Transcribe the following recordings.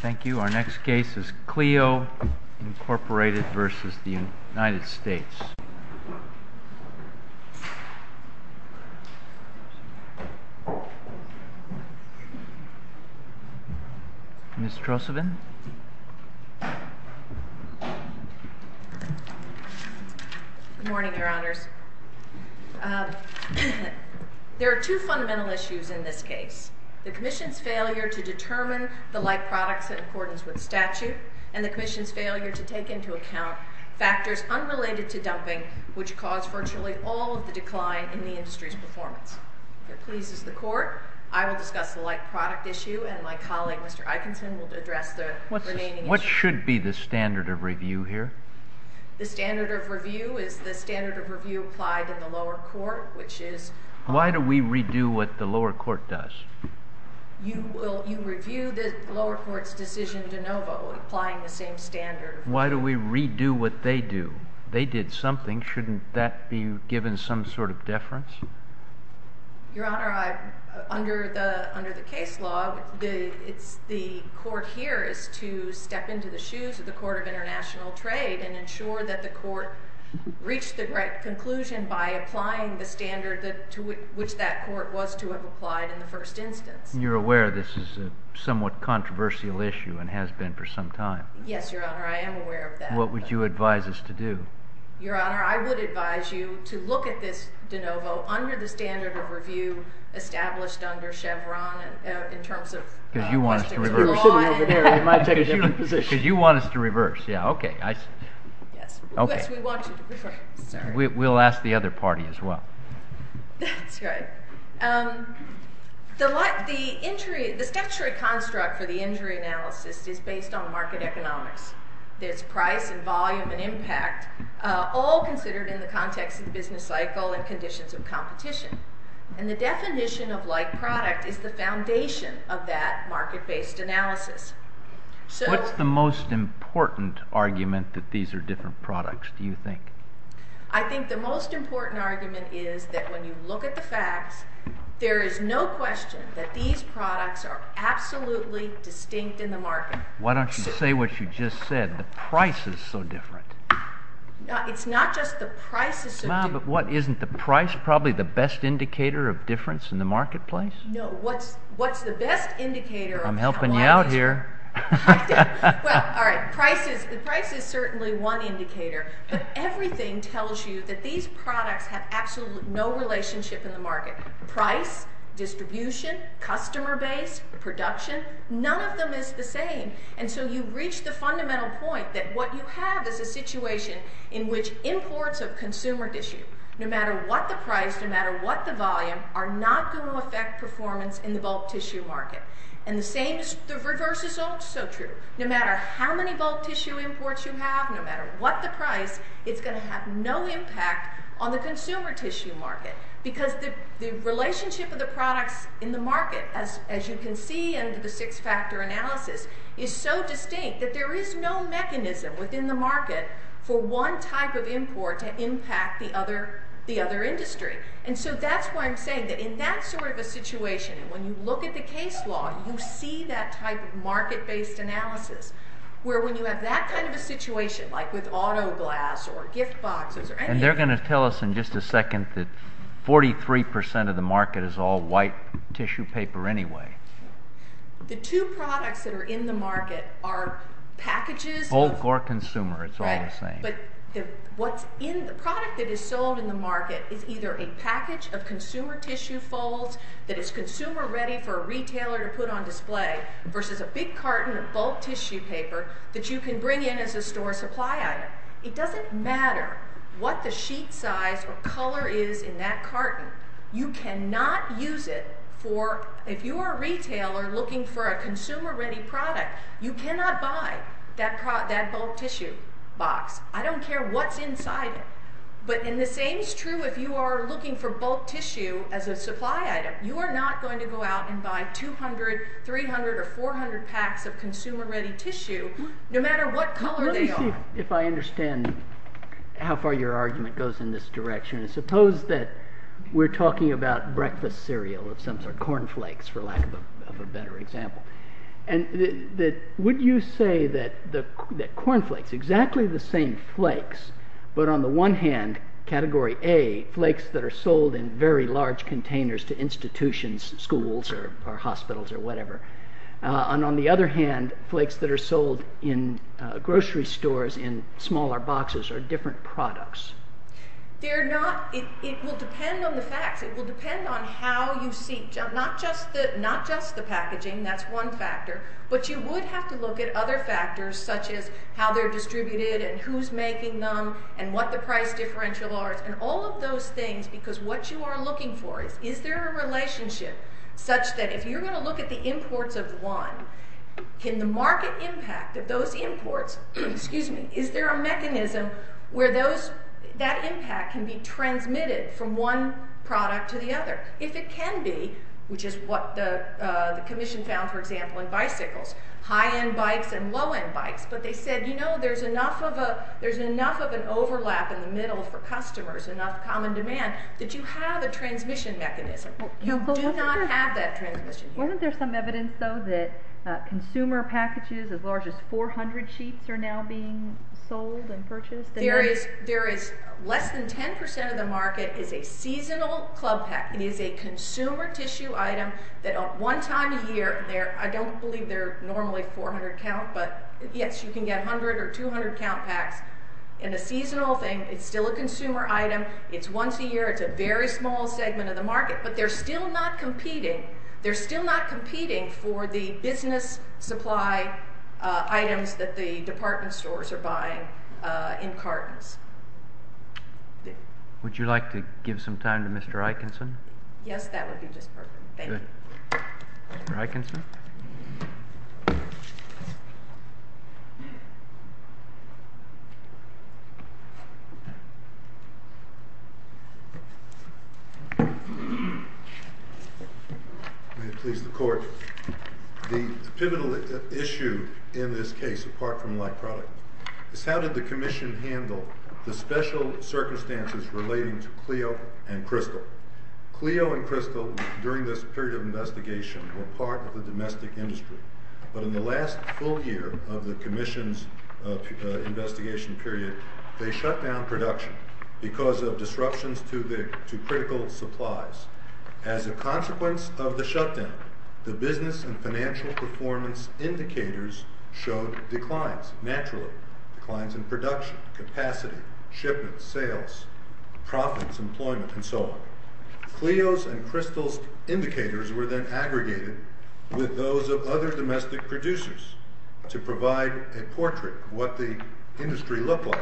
Thank you. Our next case is Cleo, Inc. v. United States. Ms. Trosevin? Good morning, Your Honors. There are two fundamental issues in this case. The Commission's failure to determine the like products in accordance with statute, and the Commission's failure to take into account factors unrelated to dumping, which cause virtually all of the decline in the industry's performance. If it pleases the Court, I will discuss the like product issue, and my colleague, Mr. Eikenson, will address the remaining issues. What should be the standard of review here? The standard of review is the standard of review applied in the lower court, which is... Why do we redo what the lower court does? You review the lower court's decision de novo, applying the same standard. Why do we redo what they do? They did something. Shouldn't that be given some sort of deference? Your Honor, under the case law, the court here is to step into the shoes of the Court of International Trade and ensure that the court reached the right conclusion by applying the standard to which that court was to have applied in the first instance. You're aware this is a somewhat controversial issue, and has been for some time. Yes, Your Honor, I am aware of that. What would you advise us to do? Your Honor, I would advise you to look at this de novo under the standard of review established under Chevron in terms of... Because you want us to reverse. Because you want us to reverse. Yes, we want you to reverse. We'll ask the other party as well. That's right. The statutory construct for the injury analysis is based on market economics. There's price and volume and impact, all considered in the context of business cycle and conditions of competition. And the definition of like product is the foundation of that market-based analysis. What's the most important argument that these are different products, do you think? I think the most important argument is that when you look at the facts, there is no question that these products are absolutely distinct in the market. Why don't you say what you just said? The price is so different. It's not just the price is so different. But isn't the price probably the best indicator of difference in the marketplace? No, what's the best indicator of... I'm helping you out here. Well, all right, the price is certainly one indicator. But everything tells you that these products have absolutely no relationship in the market. Price, distribution, customer base, production, none of them is the same. And so you've reached the fundamental point that what you have is a situation in which imports of consumer tissue, no matter what the price, no matter what the volume, are not going to affect performance in the bulk tissue market. And the same, the reverse is also true. No matter how many bulk tissue imports you have, no matter what the price, it's going to have no impact on the consumer tissue market. Because the relationship of the products in the market, as you can see in the six-factor analysis, is so distinct that there is no mechanism within the market for one type of import to impact the other industry. And so that's why I'm saying that in that sort of a situation, when you look at the case law, you see that type of market-based analysis, where when you have that kind of a situation, like with auto glass or gift boxes or anything... And they're going to tell us in just a second that 43% of the market is all white tissue paper anyway. The two products that are in the market are packages... Bulk or consumer, it's all the same. But the product that is sold in the market is either a package of consumer tissue folds that is consumer-ready for a retailer to put on display versus a big carton of bulk tissue paper that you can bring in as a store supply item. It doesn't matter what the sheet size or color is in that carton. You cannot use it for... If you are a retailer looking for a consumer-ready product, you cannot buy that bulk tissue box. I don't care what's inside it. But the same is true if you are looking for bulk tissue as a supply item. You are not going to go out and buy 200, 300, or 400 packs of consumer-ready tissue, no matter what color they are. Let me see if I understand how far your argument goes in this direction. Suppose that we're talking about breakfast cereal of some sort, cornflakes for lack of a better example. Would you say that cornflakes, exactly the same flakes, but on the one hand, category A, flakes that are sold in very large containers to institutions, schools, or hospitals, or whatever, and on the other hand, flakes that are sold in grocery stores in smaller boxes or different products? It will depend on the facts. It will depend on how you see. Not just the packaging, that's one factor, but you would have to look at other factors, such as how they're distributed and who's making them and what the price differential are, and all of those things, because what you are looking for is, is there a relationship such that if you're going to look at the imports of one, can the market impact of those imports... that impact can be transmitted from one product to the other? If it can be, which is what the commission found, for example, in bicycles, high-end bikes and low-end bikes, but they said, you know, there's enough of an overlap in the middle for customers, enough common demand, that you have a transmission mechanism. You do not have that transmission here. Wasn't there some evidence, though, that consumer packages as large as 400 sheets are now being sold and purchased? There is. Less than 10% of the market is a seasonal club pack. It is a consumer tissue item that, one time a year, I don't believe they're normally 400 count, but yes, you can get 100 or 200 count packs in a seasonal thing. It's still a consumer item. It's once a year. It's a very small segment of the market, but they're still not competing. They're still not competing for the business supply items that the department stores are buying in cartons. Would you like to give some time to Mr. Eikenson? Yes, that would be just perfect. Thank you. Mr. Eikenson? May it please the court. The pivotal issue in this case, apart from light product, is how did the commission handle the special circumstances relating to Clio and Crystal? Clio and Crystal, during this period of investigation, were part of the domestic industry, but in the last full year of the commission's investigation period, they shut down production because of disruptions to critical supplies. As a consequence of the shutdown, the business and financial performance indicators showed declines naturally, declines in production, capacity, shipments, sales, profits, employment, and so on. Clio's and Crystal's indicators were then aggregated with those of other domestic producers to provide a portrait of what the industry looked like,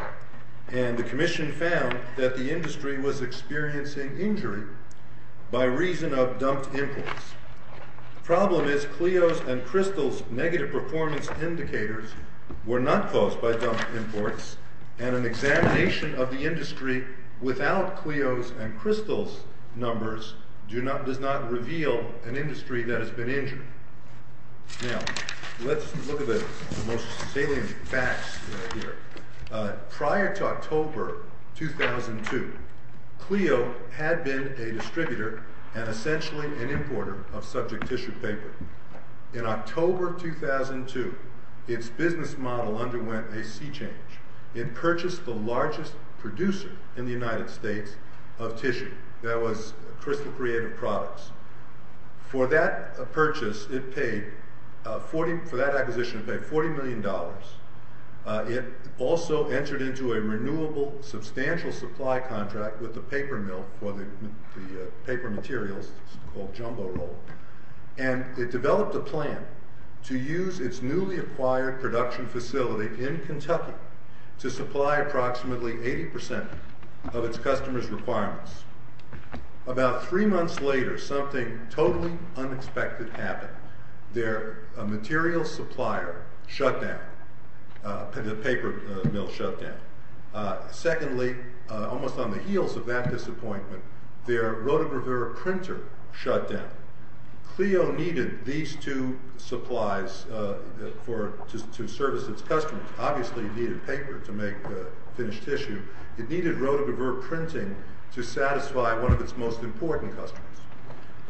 and the commission found that the industry was experiencing injury by reason of dumped imports. The problem is Clio's and Crystal's negative performance indicators were not caused by dumped imports, and an examination of the industry without Clio's and Crystal's numbers does not reveal an industry that has been injured. Now, let's look at the most salient facts here. Prior to October 2002, Clio had been a distributor and essentially an importer of subject tissue paper. In October 2002, its business model underwent a sea change. It purchased the largest producer in the United States of tissue. That was Crystal Creative Products. For that acquisition, it paid $40 million. It also entered into a renewable substantial supply contract with the paper mill for the paper materials called Jumbo Roll, and it developed a plan to use its newly acquired production facility in Kentucky to supply approximately 80% of its customers' requirements. About three months later, something totally unexpected happened. Their material supplier shut down. The paper mill shut down. Secondly, almost on the heels of that disappointment, their rotogravure printer shut down. Clio needed these two supplies to service its customers. Obviously, it needed paper to make the finished tissue. It needed rotogravure printing to satisfy one of its most important customers.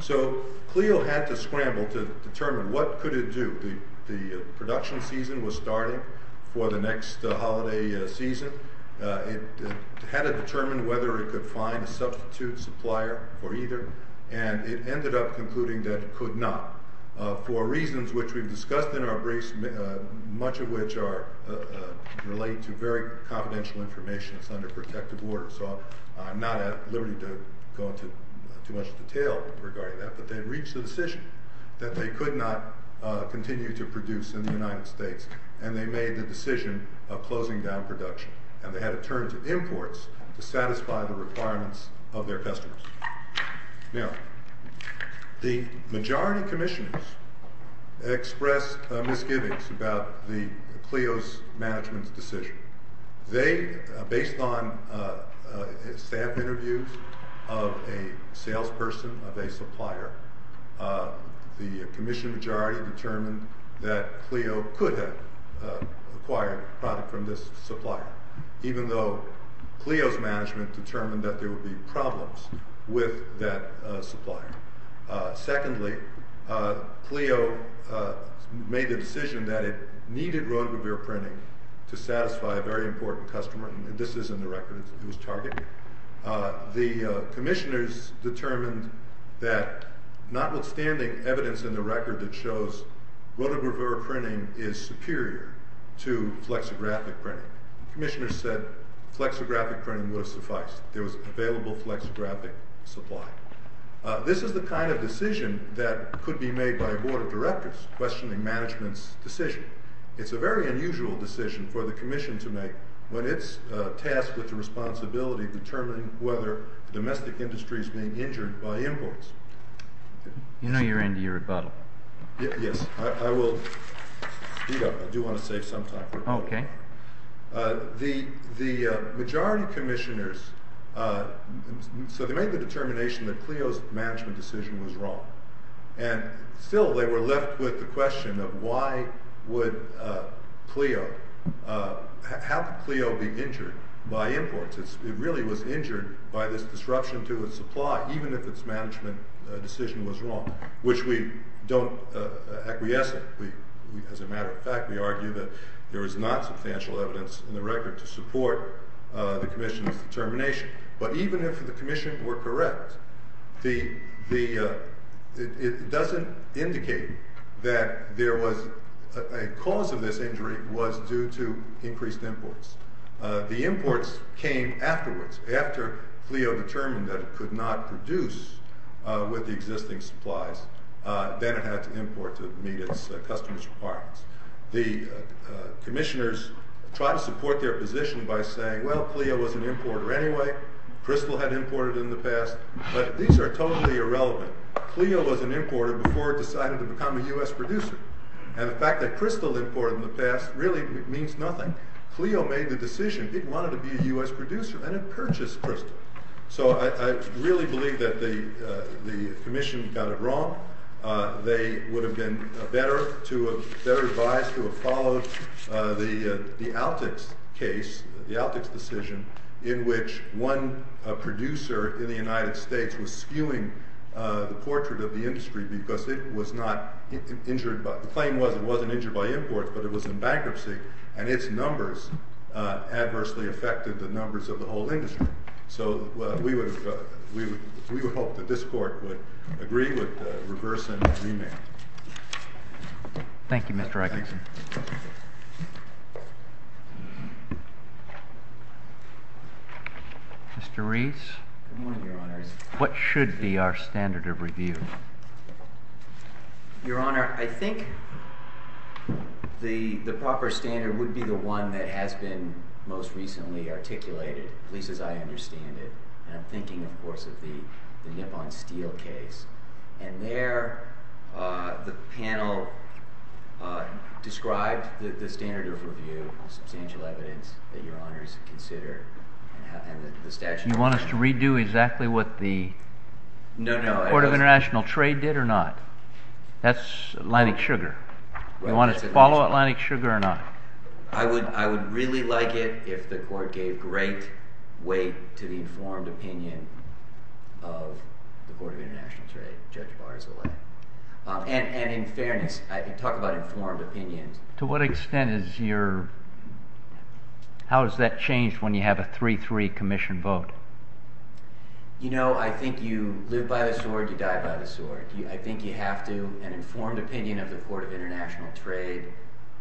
So Clio had to scramble to determine what could it do. The production season was starting for the next holiday season. It had to determine whether it could find a substitute supplier or either, and it ended up concluding that it could not for reasons which we've discussed in our briefs, much of which relate to very confidential information. So I'm not at liberty to go into too much detail regarding that, but they reached a decision that they could not continue to produce in the United States, and they made the decision of closing down production, and they had to turn to imports to satisfy the requirements of their customers. Now, the majority commissioners expressed misgivings about Clio's management's decision. They, based on staff interviews of a salesperson, of a supplier, the commission majority determined that Clio could have acquired a product from this supplier, even though Clio's management determined that there would be problems with that supplier. Secondly, Clio made the decision that it needed roto-rever printing to satisfy a very important customer, and this is in the record. It was Target. The commissioners determined that, notwithstanding evidence in the record that shows roto-rever printing is superior to flexographic printing, the commissioners said flexographic printing would have sufficed. There was available flexographic supply. This is the kind of decision that could be made by a board of directors questioning management's decision. It's a very unusual decision for the commission to make when it's tasked with the responsibility of determining whether domestic industry is being injured by imports. You know you're into your rebuttal. Yes. I will speed up. I do want to save some time for it. Okay. The majority commissioners, so they made the determination that Clio's management decision was wrong, and still they were left with the question of why would Clio, how could Clio be injured by imports? It really was injured by this disruption to its supply, even if its management decision was wrong, which we don't acquiesce in. As a matter of fact, we argue that there is not substantial evidence in the record to support the commission's determination. But even if the commission were correct, it doesn't indicate that a cause of this injury was due to increased imports. The imports came afterwards. After Clio determined that it could not produce with the existing supplies, the commissioners tried to support their position by saying, well, Clio was an importer anyway. Crystal had imported in the past. But these are totally irrelevant. Clio was an importer before it decided to become a U.S. producer. And the fact that Crystal imported in the past really means nothing. Clio made the decision. It wanted to be a U.S. producer, and it purchased Crystal. So I really believe that the commission got it wrong. They would have been better advised to have followed the Altex case, the Altex decision, in which one producer in the United States was skewing the portrait of the industry because it was not injured. The claim was it wasn't injured by imports, but it was in bankruptcy, and its numbers adversely affected the numbers of the whole industry. So we would hope that this Court would agree with the reverse and remand. Thank you, Mr. Egerton. Mr. Rees? Good morning, Your Honors. What should be our standard of review? Your Honor, I think the proper standard would be the one that has been most recently articulated, at least as I understand it. And I'm thinking, of course, of the Nippon Steel case. And there the panel described the standard of review, substantial evidence that Your Honors consider, and the statute of limitations. You want us to redo exactly what the Court of International Trade did or not? That's Atlantic Sugar. You want us to follow Atlantic Sugar or not? I would really like it if the Court gave great weight to the informed opinion of the Court of International Trade, Judge Barzilay. And in fairness, talk about informed opinion. To what extent is your... How has that changed when you have a 3-3 commission vote? You know, I think you live by the sword, you die by the sword. I think you have to, an informed opinion of the Court of International Trade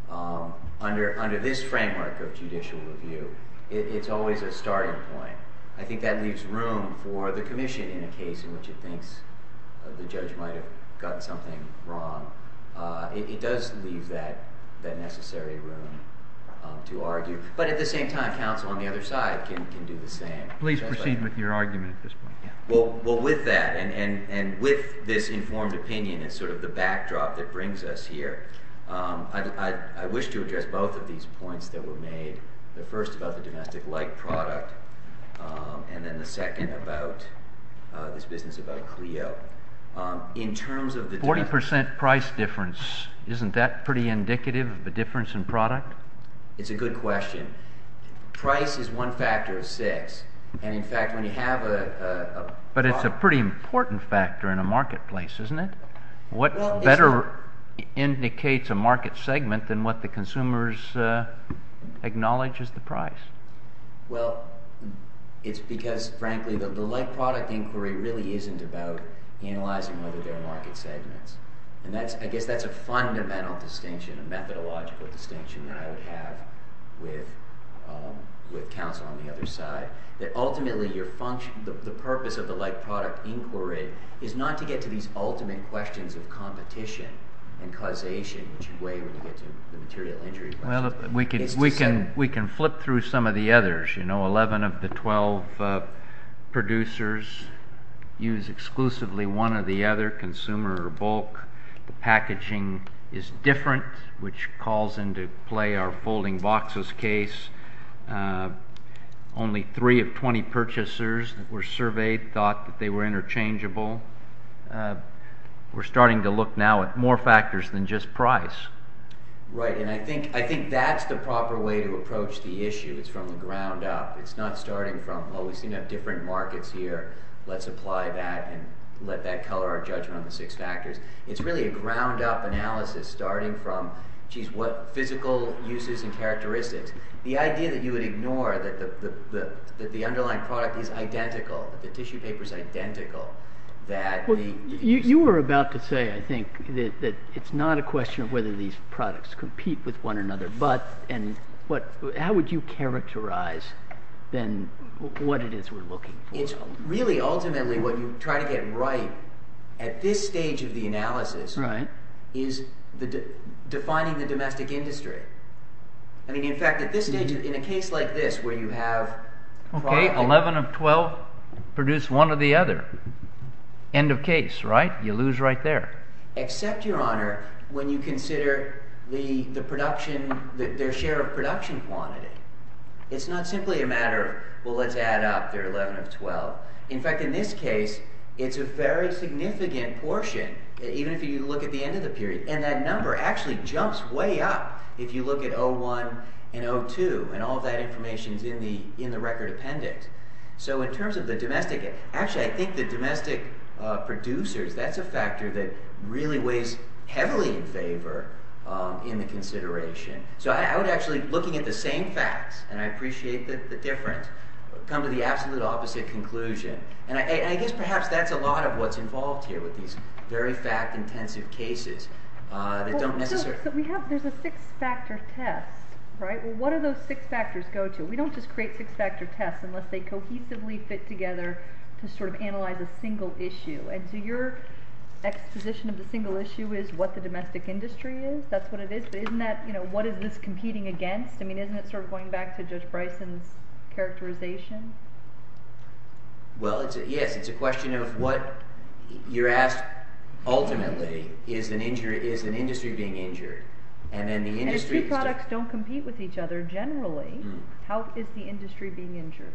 under this framework of judicial review, it's always a starting point. I think that leaves room for the commission in a case in which it thinks the judge might have gotten something wrong. It does leave that necessary room to argue. But at the same time, counsel on the other side can do the same. Please proceed with your argument at this point. Well, with that, and with this informed opinion as sort of the backdrop that brings us here, I wish to address both of these points that were made. The first about the domestic-like product, and then the second about this business about Clio. In terms of the... Forty percent price difference, isn't that pretty indicative of a difference in product? It's a good question. Price is one factor of six. And in fact, when you have a... But it's a pretty important factor in a marketplace, isn't it? What better indicates a market segment than what the consumers acknowledge as the price? Well, it's because, frankly, the like-product inquiry really isn't about analyzing whether there are market segments. And I guess that's a fundamental distinction, a methodological distinction that I would have with counsel on the other side. Ultimately, the purpose of the like-product inquiry is not to get to these ultimate questions of competition and causation, which you weigh when you get to the material injury question. We can flip through some of the others. You know, 11 of the 12 producers use exclusively one or the other, consumer or bulk. The packaging is different, which calls into play our folding boxes case. Only 3 of 20 purchasers that were surveyed thought that they were interchangeable. We're starting to look now at more factors than just price. Right, and I think that's the proper way to approach the issue. It's from the ground up. It's not starting from, oh, we seem to have different markets here. Let's apply that and let that color our judgment on the six factors. It's really a ground-up analysis, starting from, jeez, what physical uses and characteristics. The idea that you would ignore that the underlying product is identical, the tissue paper is identical. You were about to say, I think, that it's not a question of whether these products compete with one another, but how would you characterize then what it is we're looking for? It's really ultimately what you try to get right at this stage of the analysis is defining the domestic industry. I mean, in fact, at this stage, in a case like this, Okay, 11 of 12 produce one or the other. End of case, right? You lose right there. Except, Your Honor, when you consider their share of production quantity. It's not simply a matter of, well, let's add up their 11 of 12. In fact, in this case, it's a very significant portion, even if you look at the end of the period, and that number actually jumps way up if you look at 01 and 02, and all that information is in the record appendix. So in terms of the domestic, actually, I think the domestic producers, that's a factor that really weighs heavily in favor in the consideration. So I would actually, looking at the same facts, and I appreciate the difference, come to the absolute opposite conclusion. And I guess perhaps that's a lot of what's involved here with these very fact-intensive cases that don't necessarily... There's a six-factor test, right? Well, what do those six factors go to? We don't just create six-factor tests unless they cohesively fit together to sort of analyze a single issue. And so your exposition of the single issue is what the domestic industry is. That's what it is, but isn't that, you know, what is this competing against? I mean, isn't it sort of going back to Judge Bryson's characterization? Well, yes, it's a question of what you're asked ultimately is an industry being injured. And if two products don't compete with each other generally, how is the industry being injured?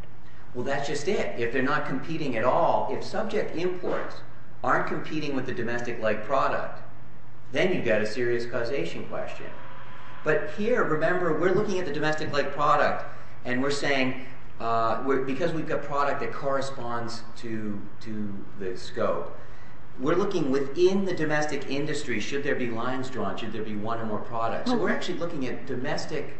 Well, that's just it. If they're not competing at all, if subject imports aren't competing with the domestic-like product, then you've got a serious causation question. But here, remember, we're looking at the domestic-like product, and we're saying, because we've got product that corresponds to the scope, we're looking within the domestic industry, should there be lines drawn, should there be one or more products. We're actually looking at domestic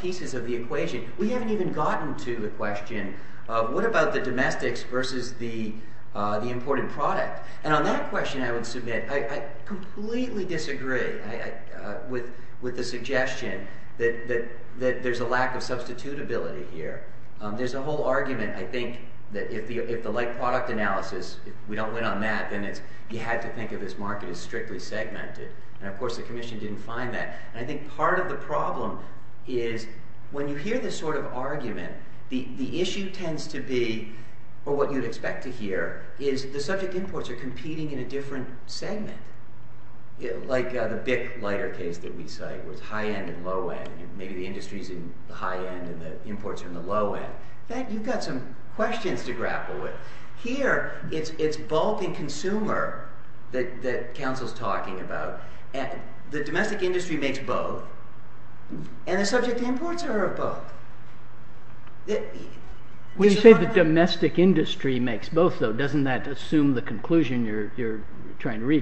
pieces of the equation. We haven't even gotten to the question, what about the domestics versus the imported product? And on that question, I would submit, I completely disagree with the suggestion that there's a lack of substitutability here. There's a whole argument, I think, that if the like-product analysis, if we don't win on that, then you have to think of this market as strictly segmented. And of course, the Commission didn't find that. And I think part of the problem is, when you hear this sort of argument, the issue tends to be, or what you'd expect to hear, is the subject imports are competing in a different segment. Like the BIC lighter case that we cite, with high-end and low-end. Maybe the industry's in the high-end and the imports are in the low-end. In fact, you've got some questions to grapple with. Here, it's bulk and consumer that Council's talking about. The domestic industry makes both, and the subject imports are of both. When you say the domestic industry makes both, though,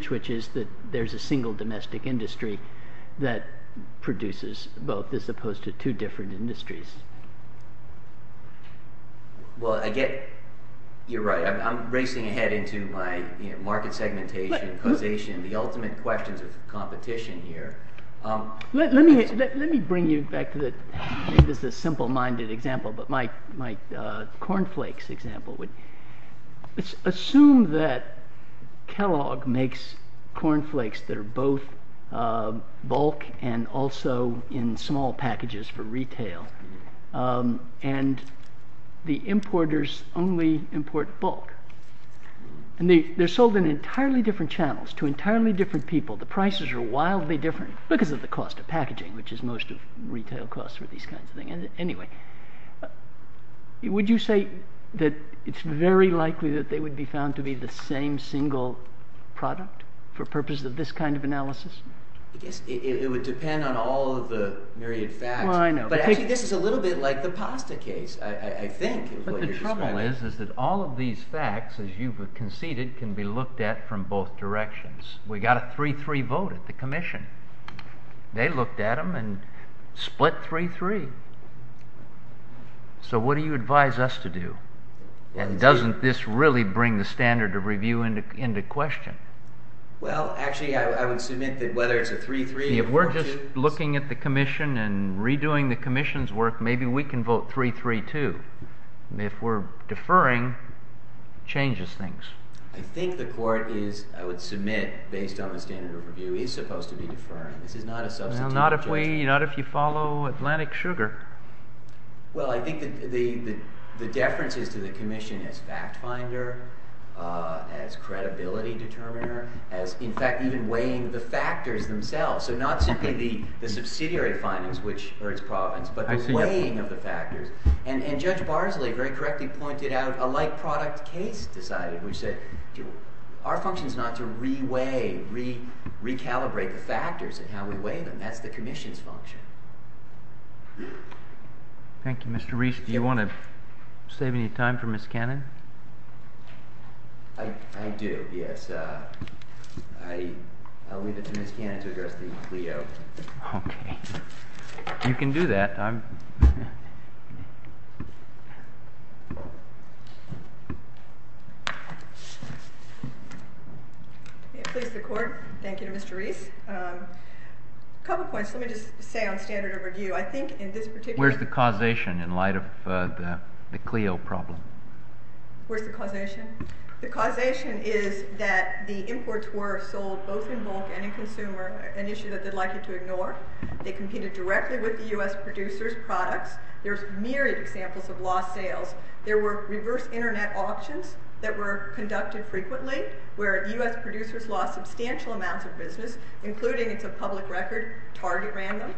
which is that there's a single domestic industry that produces both, as opposed to two different industries. Well, I get you're right. I'm racing ahead into my market segmentation, causation, the ultimate questions of competition here. Let me bring you back to the, this is a simple-minded example, but my cornflakes example. Assume that Kellogg makes cornflakes that are both bulk and also in small packages for retail, and the importers only import bulk. And they're sold in entirely different channels, to entirely different people. The prices are wildly different, because of the cost of packaging, which is most of retail costs for these kinds of things. Anyway, would you say that it's very likely that they would be found to be the same single product, for purpose of this kind of analysis? I guess it would depend on all of the myriad facts. But actually, this is a little bit like the pasta case, I think. But the trouble is, is that all of these facts, as you've conceded, can be looked at from both directions. We got a 3-3 vote at the Commission. They looked at them and split 3-3. So what do you advise us to do? And doesn't this really bring the standard of review into question? Well, actually, I would submit that whether it's a 3-3 or a 4-2... If we're just looking at the Commission and redoing the Commission's work, maybe we can vote 3-3 too. If we're deferring, it changes things. I think the Court is, I would submit, based on the standard of review, is supposed to be deferring. This is not a substitute. Not if you follow Atlantic Sugar. Well, I think the deference is to the Commission as fact finder, as credibility determiner, as, in fact, even weighing the factors themselves. So not simply the subsidiary findings, which are its province, but the weighing of the factors. And Judge Barsley very correctly pointed out a like-product case decided, Our function is not to re-weigh, re-calibrate the factors and how we weigh them. That's the Commission's function. Thank you. Mr. Reese, do you want to save any time for Ms. Cannon? I do, yes. I'll leave it to Ms. Cannon to address the CLEO. Okay. You can do that. Please, the Court. Thank you, Mr. Reese. A couple points. Let me just say on standard of review, I think in this particular case. Where's the causation in light of the CLEO problem? Where's the causation? The causation is that the imports were sold both in bulk and in consumer, an issue that they'd like you to ignore. They competed directly with the U.S. producers' products. There's myriad examples of lost sales. There were reverse Internet auctions that were conducted frequently where U.S. producers lost substantial amounts of business, including, it's a public record, Target ran them.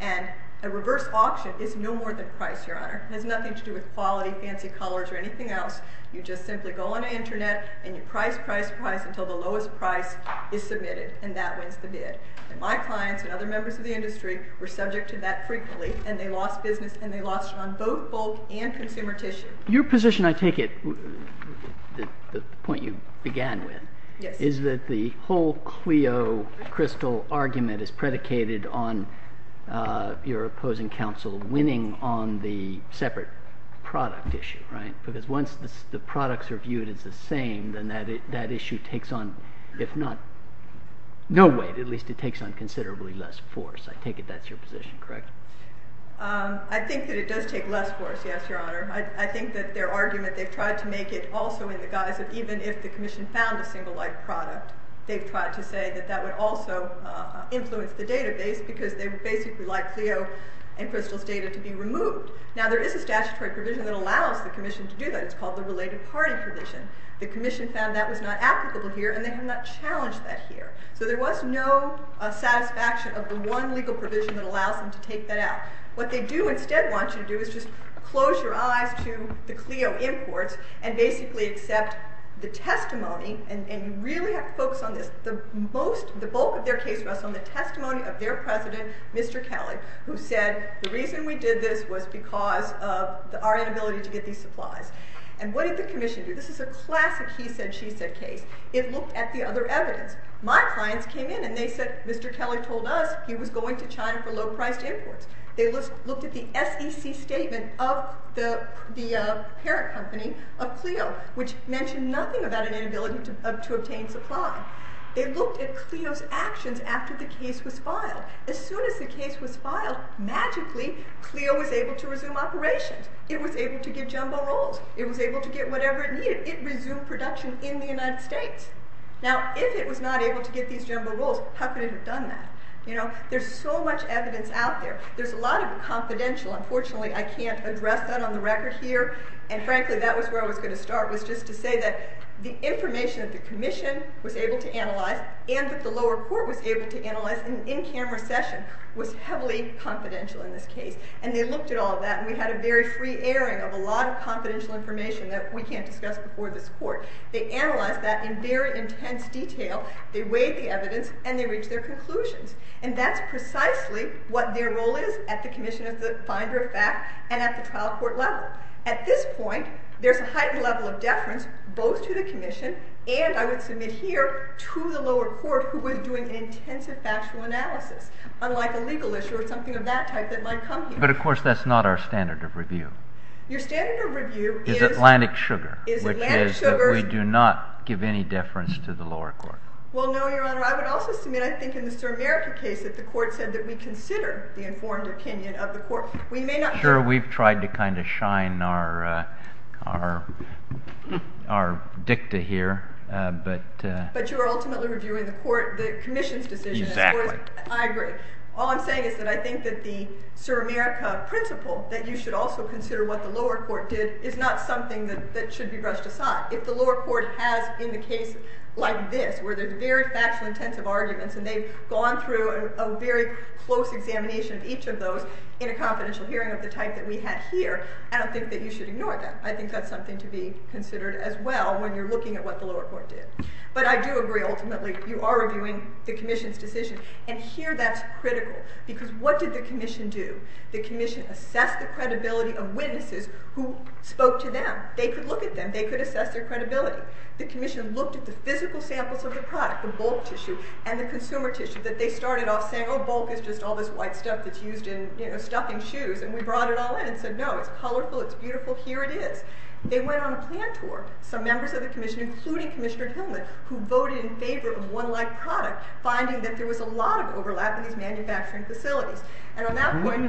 And a reverse auction is no more than price, Your Honor. It has nothing to do with quality, fancy colors, or anything else. You just simply go on the Internet and you price, price, price until the lowest price is submitted, and that wins the bid. My clients and other members of the industry were subject to that frequently, and they lost business, and they lost it on both bulk and consumer tissue. Your position, I take it, the point you began with, is that the whole CLEO crystal argument is predicated on your opposing counsel winning on the separate product issue, right? Because once the products are viewed as the same, then that issue takes on, if not no weight, at least it takes on considerably less force. I take it that's your position, correct? I think that it does take less force, yes, Your Honor. I think that their argument, they've tried to make it also in the guise of even if the Commission found a single-like product, they've tried to say that that would also influence the database because they would basically like CLEO and Crystal's data to be removed. Now, there is a statutory provision that allows the Commission to do that. It's called the Related Party Provision. The Commission found that was not applicable here, and they have not challenged that here. So there was no satisfaction of the one legal provision that allows them to take that out. What they do instead want you to do is just close your eyes to the CLEO imports and basically accept the testimony, and you really have to focus on this, the bulk of their case was on the testimony of their president, Mr. Kelley, who said the reason we did this was because of our inability to get these supplies. And what did the Commission do? This is a classic he-said-she-said case. It looked at the other evidence. My clients came in, and they said Mr. Kelley told us he was going to China for low-priced imports. They looked at the SEC statement of the parent company of CLEO, which mentioned nothing about an inability to obtain supply. They looked at CLEO's actions after the case was filed. As soon as the case was filed, magically, CLEO was able to resume operations. It was able to give jumbo rolls. It was able to get whatever it needed. It resumed production in the United States. Now, if it was not able to get these jumbo rolls, how could it have done that? There's so much evidence out there. There's a lot of confidential. Unfortunately, I can't address that on the record here. And frankly, that was where I was going to start, was just to say that the information that the Commission was able to analyze and that the lower court was able to analyze in an in-camera session was heavily confidential in this case. And they looked at all of that, and we had a very free airing of a lot of confidential information that we can't discuss before this court. They analyzed that in very intense detail. They weighed the evidence, and they reached their conclusions. And that's precisely what their role is at the Commission as the finder of fact and at the trial court level. At this point, there's a heightened level of deference both to the Commission and, I would submit here, to the lower court who was doing intensive factual analysis, unlike a legal issue or something of that type that might come here. But, of course, that's not our standard of review. Your standard of review is Atlantic Sugar, which is that we do not give any deference to the lower court. Well, no, Your Honor. I would also submit, I think, in the Sur America case, that the court said that we consider the informed opinion of the court. We may not... Sure, we've tried to kind of shine our dicta here, but... But you're ultimately reviewing the Commission's decision. Exactly. I agree. All I'm saying is that I think that the Sur America principle that you should also consider what the lower court did is not something that should be brushed aside. If the lower court has, in the case like this, where there's very factual intensive arguments and they've gone through a very close examination of each of those in a confidential hearing of the type that we had here, I don't think that you should ignore that. I think that's something to be considered as well when you're looking at what the lower court did. But I do agree, ultimately, you are reviewing the Commission's decision. And here that's critical, because what did the Commission do? The Commission assessed the credibility of witnesses who spoke to them. They could look at them. They could assess their credibility. The Commission looked at the physical samples of the product, the bulk tissue and the consumer tissue, that they started off saying, oh, bulk is just all this white stuff that's used in, you know, stuffing shoes, and we brought it all in and said, no, it's colorful, it's beautiful, here it is. They went on a plant tour, some members of the Commission, including Commissioner Hillman, who voted in favor of one-leg product, finding that there was a lot of overlap in these manufacturing facilities. And on that point,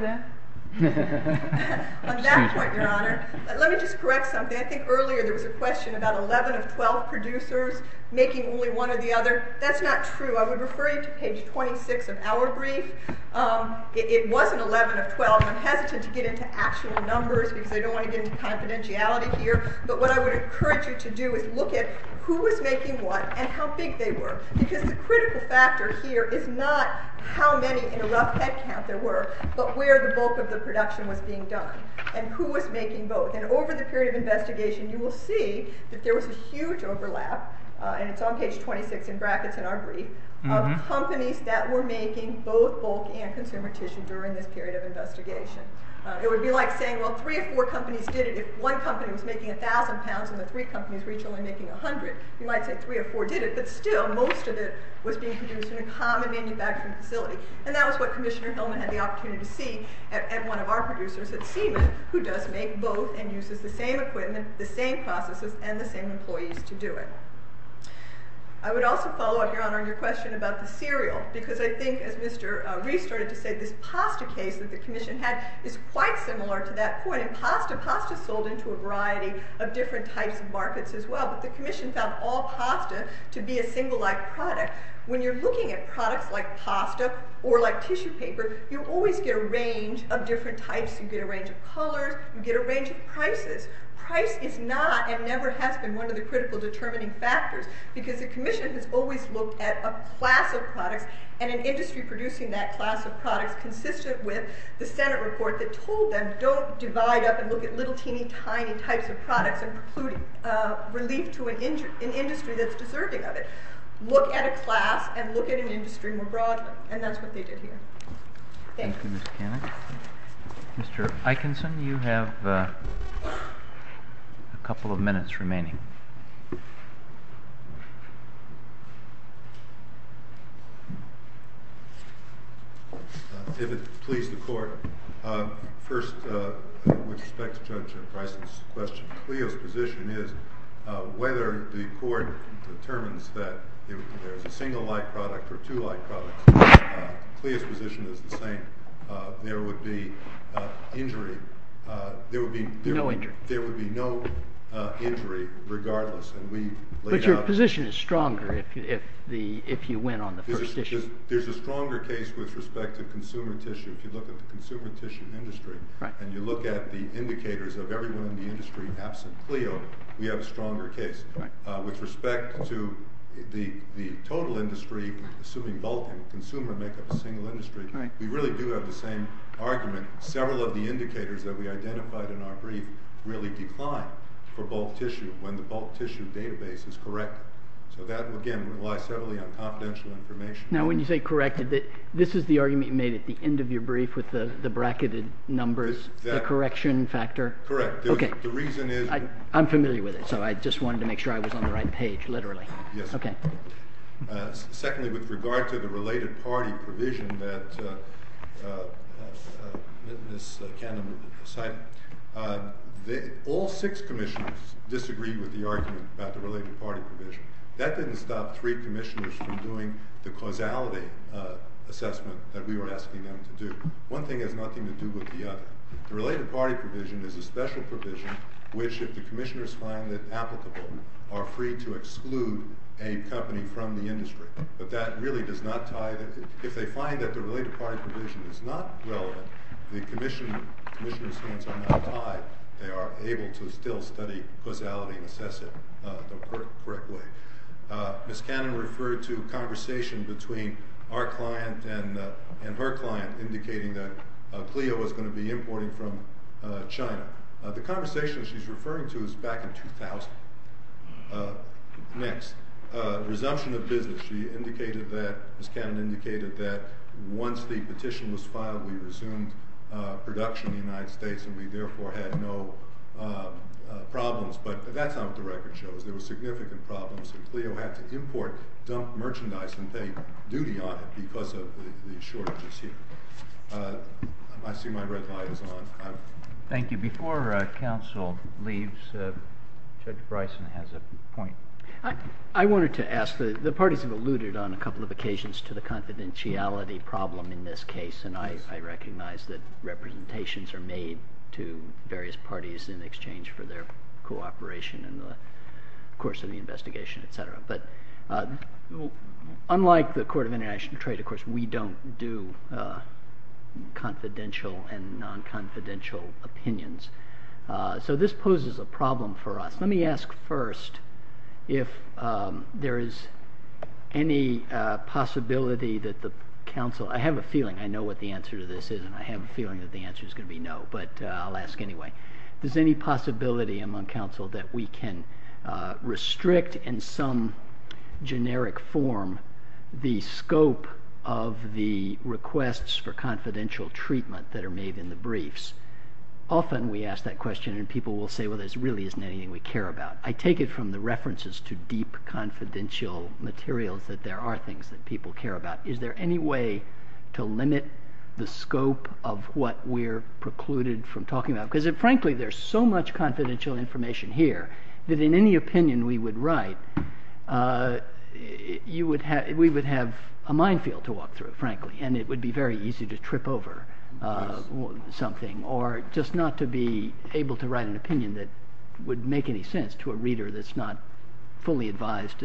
Your Honor, let me just correct something. I think earlier there was a question about 11 of 12 producers making only one or the other. That's not true. I would refer you to page 26 of our brief. It wasn't 11 of 12. I'm hesitant to get into actual numbers, because I don't want to get into confidentiality here. But what I would encourage you to do is look at who was making what and how big they were. Because the critical factor here is not how many in a rough headcount there were, but where the bulk of the production was being done, and who was making both. And over the period of investigation, you will see that there was a huge overlap, and it's on page 26 in brackets in our brief, of companies that were making both bulk and consumer tissue during this period of investigation. It would be like saying, well, three or four companies did it. If one company was making 1,000 pounds and the three companies were each only making 100, you might say three or four did it, but still, most of it was being produced in a common manufacturing facility. And that was what Commissioner Hillman had the opportunity to see at one of our producers at Siemens, who does make both and uses the same equipment, the same processes, and the same employees to do it. I would also follow up, Your Honor, on your question about the cereal. Because I think, as Mr. Reese started to say, this pasta case that the commission had is quite similar to that point. And pasta, pasta sold into a variety of different types of markets as well. But the commission found all pasta to be a single life product. When you're looking at products like pasta or like tissue paper, you always get a range of different types. You get a range of colors. You get a range of prices. Price is not and never has been one of the critical determining factors because the commission has always looked at a class of products. And an industry producing that class of products consistent with the Senate report that told them don't divide up and look at little teeny tiny types of products and preclude relief to an industry that's deserving of it. Look at a class and look at an industry more broadly. And that's what they did here. Thank you. Thank you, Ms. Cannon. Mr. Eikenson, you have a couple of minutes remaining. If it please the court, first, with respect to Judge Price's question, Cleo's position is whether the court determines that there's a single life product or two life products, Cleo's position is the same. There would be injury. No injury. There would be no injury regardless. But your position is stronger if you win on the first issue. There's a stronger case with respect to consumer tissue. If you look at the consumer tissue industry and you look at the indicators of everyone in the industry absent Cleo, we have a stronger case. With respect to the total industry, assuming bulk and consumer make up a single industry, we really do have the same argument. Several of the indicators that we identified in our brief really decline for bulk tissue when the bulk tissue database is correct. So that, again, relies heavily on confidential information. Now, when you say corrected, this is the argument you made at the end of your brief with the bracketed numbers, the correction factor? Correct. OK. The reason is? I'm familiar with it. So I just wanted to make sure I was on the right page, literally. Yes. OK. Secondly, with regard to the related party provision that Ms. Cannon cited, all six commissioners disagreed with the argument about the related party provision. That didn't stop three commissioners from doing the causality assessment that we were asking them to do. One thing has nothing to do with the other. The related party provision is a special provision which, if the commissioners find it applicable, are free to exclude a company from the industry. But that really does not tie. If they find that the related party provision is not relevant, the commissioners' hands are not tied. They are able to still study causality and assess it the correct way. Ms. Cannon referred to conversation between our client and her client indicating that Clio was going to be importing from China. The conversation she's referring to is back in 2000. Next. Resumption of business. She indicated that, Ms. Cannon indicated that once the petition was filed, we resumed production in the United States and we therefore had no problems. But that's not what the record shows. There were significant problems. And Clio had to import, dump merchandise, and pay duty on it because of the shortages here. I see my red light is on. Thank you. Before counsel leaves, Judge Bryson has a point. I wanted to ask. The parties have alluded on a couple of occasions to the confidentiality problem in this case. And I recognize that representations are made to various parties in exchange for their cooperation in the course of the investigation. But unlike the Court of International Trade, of course, we don't do confidential and non-confidential opinions. So this poses a problem for us. Let me ask first if there is any possibility that the counsel, I have a feeling I know what the answer to this is and I have a feeling that the answer is going to be no. But I'll ask anyway. Is there any possibility among counsel that we can restrict in some generic form the scope of the requests for confidential treatment that are made in the briefs? Often we ask that question and people will say, well, there really isn't anything we care about. I take it from the references to deep confidential materials that there are things that people care about. Is there any way to limit the scope of what we're precluded from talking about? Because frankly, there's so much confidential information here that in any opinion we would write, we would have a minefield to walk through, frankly. And it would be very easy to trip over something or just not to be able to write an opinion that would make any sense to a reader that's not fully advised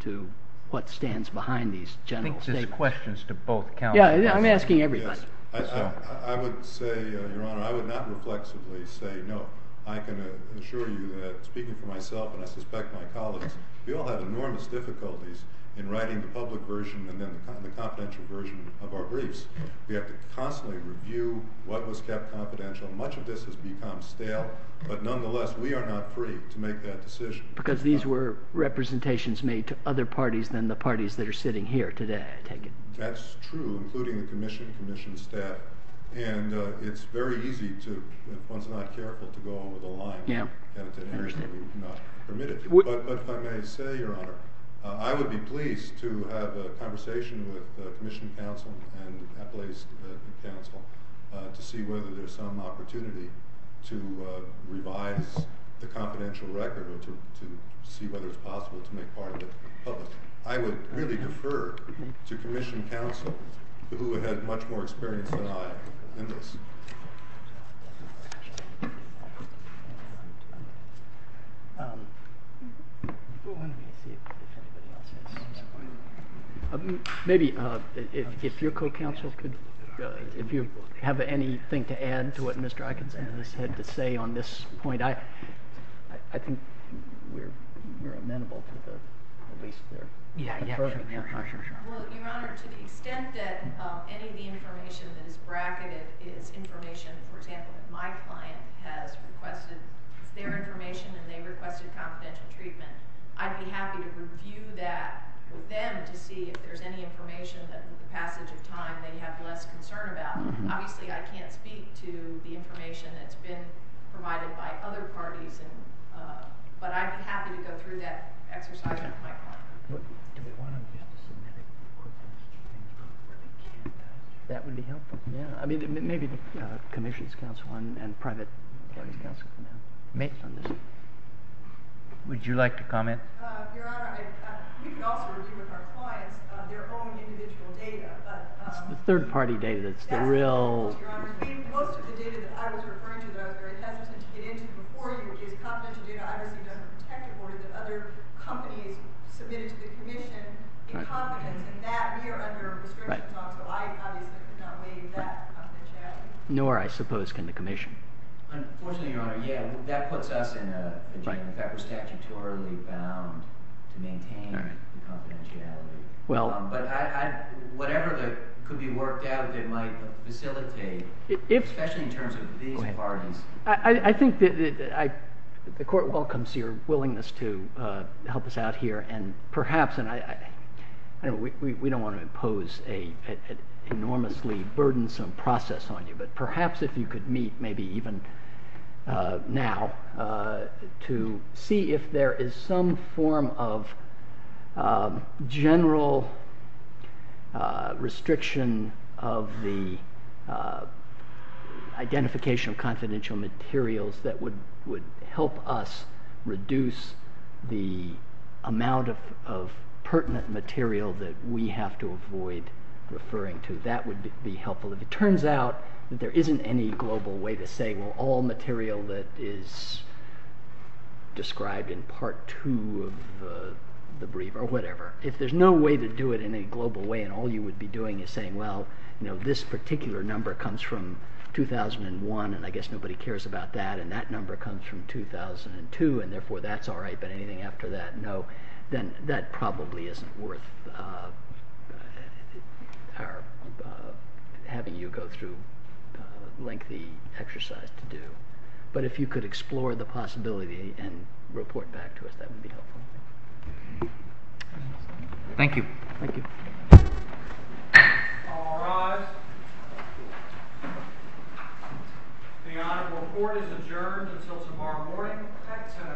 to what stands behind these general statements. I think this questions to both counsels. Yeah, I'm asking everybody. I would say, Your Honor, I would not reflexively say no. I can assure you that speaking for myself and I suspect my colleagues, we all have enormous difficulties in writing the public version and then the confidential version of our briefs. We have to constantly review what was kept confidential. Much of this has become stale. But nonetheless, we are not free to make that decision. Because these were representations made to other parties than the parties that are sitting here today, I take it. That's true, including the commission, commission staff. And it's very easy to, if one's not careful, to go over the line in areas that we do not permit it to. But if I may say, Your Honor, I would be pleased to have a conversation with the Commission Council and Appalachian Council to see whether there's some opportunity to revise the confidential record or to see whether it's possible to make part of it public. I would really defer to Commission Council, who had much more experience than I in this. Maybe if your co-counsel could, if you have anything to add to what Mr. Eikens had to say on this point, I think you're amenable to the release there. Yeah, yeah. Sure, sure. Well, Your Honor, to the extent that any of the information that is bracketed is information, for example, my client has requested their information and they requested confidential treatment, I'd be happy to review that with them to see if there's any information that, with the passage of time, they have less concern about. Obviously, I can't speak to the information that's been provided by other parties, but I'm happy to go through that exercise with my client. Do we want to submit it quickly? That would be helpful. Yeah, I mean, maybe the Commission's counsel and private parties' counsel can help make some decisions. Would you like to comment? Your Honor, we can also review with our clients their own individual data. It's the third party data that's the real. Your Honor, most of the data that I was referring to that I was very hesitant to get into before you, which is confidential data, I received under protective order that other companies submitted to the Commission in confidence in that. We are under a restriction clause, so I obviously could not waive that confidentiality. Nor, I suppose, can the Commission. Unfortunately, Your Honor, yeah, that puts us in a jam. In fact, we're statutorily bound to maintain confidentiality. But whatever could be worked out that might facilitate, especially in terms of these parties. I think that the Court welcomes your willingness to help us out here. And perhaps, and we don't want to impose an enormously burdensome process on you, but perhaps if you could meet, maybe even now, to see if there is some form of general restriction of the identification of confidential materials that would help us reduce the amount of pertinent material that we have to avoid referring to. That would be helpful. If it turns out that there isn't any global way to say, well, all material that is described in part two of the brief, or whatever. If there's no way to do it in a global way, and all you would be doing is saying, well, this particular number comes from 2001, and I guess nobody cares about that. And that number comes from 2002, and therefore that's all right. But anything after that, no. Then that probably isn't worth having you go through a lengthy exercise to do. But if you could explore the possibility and report back to us, that would be helpful. Thank you. Thank you. All rise. The Honorable Court is adjourned until tomorrow morning at 10 o'clock.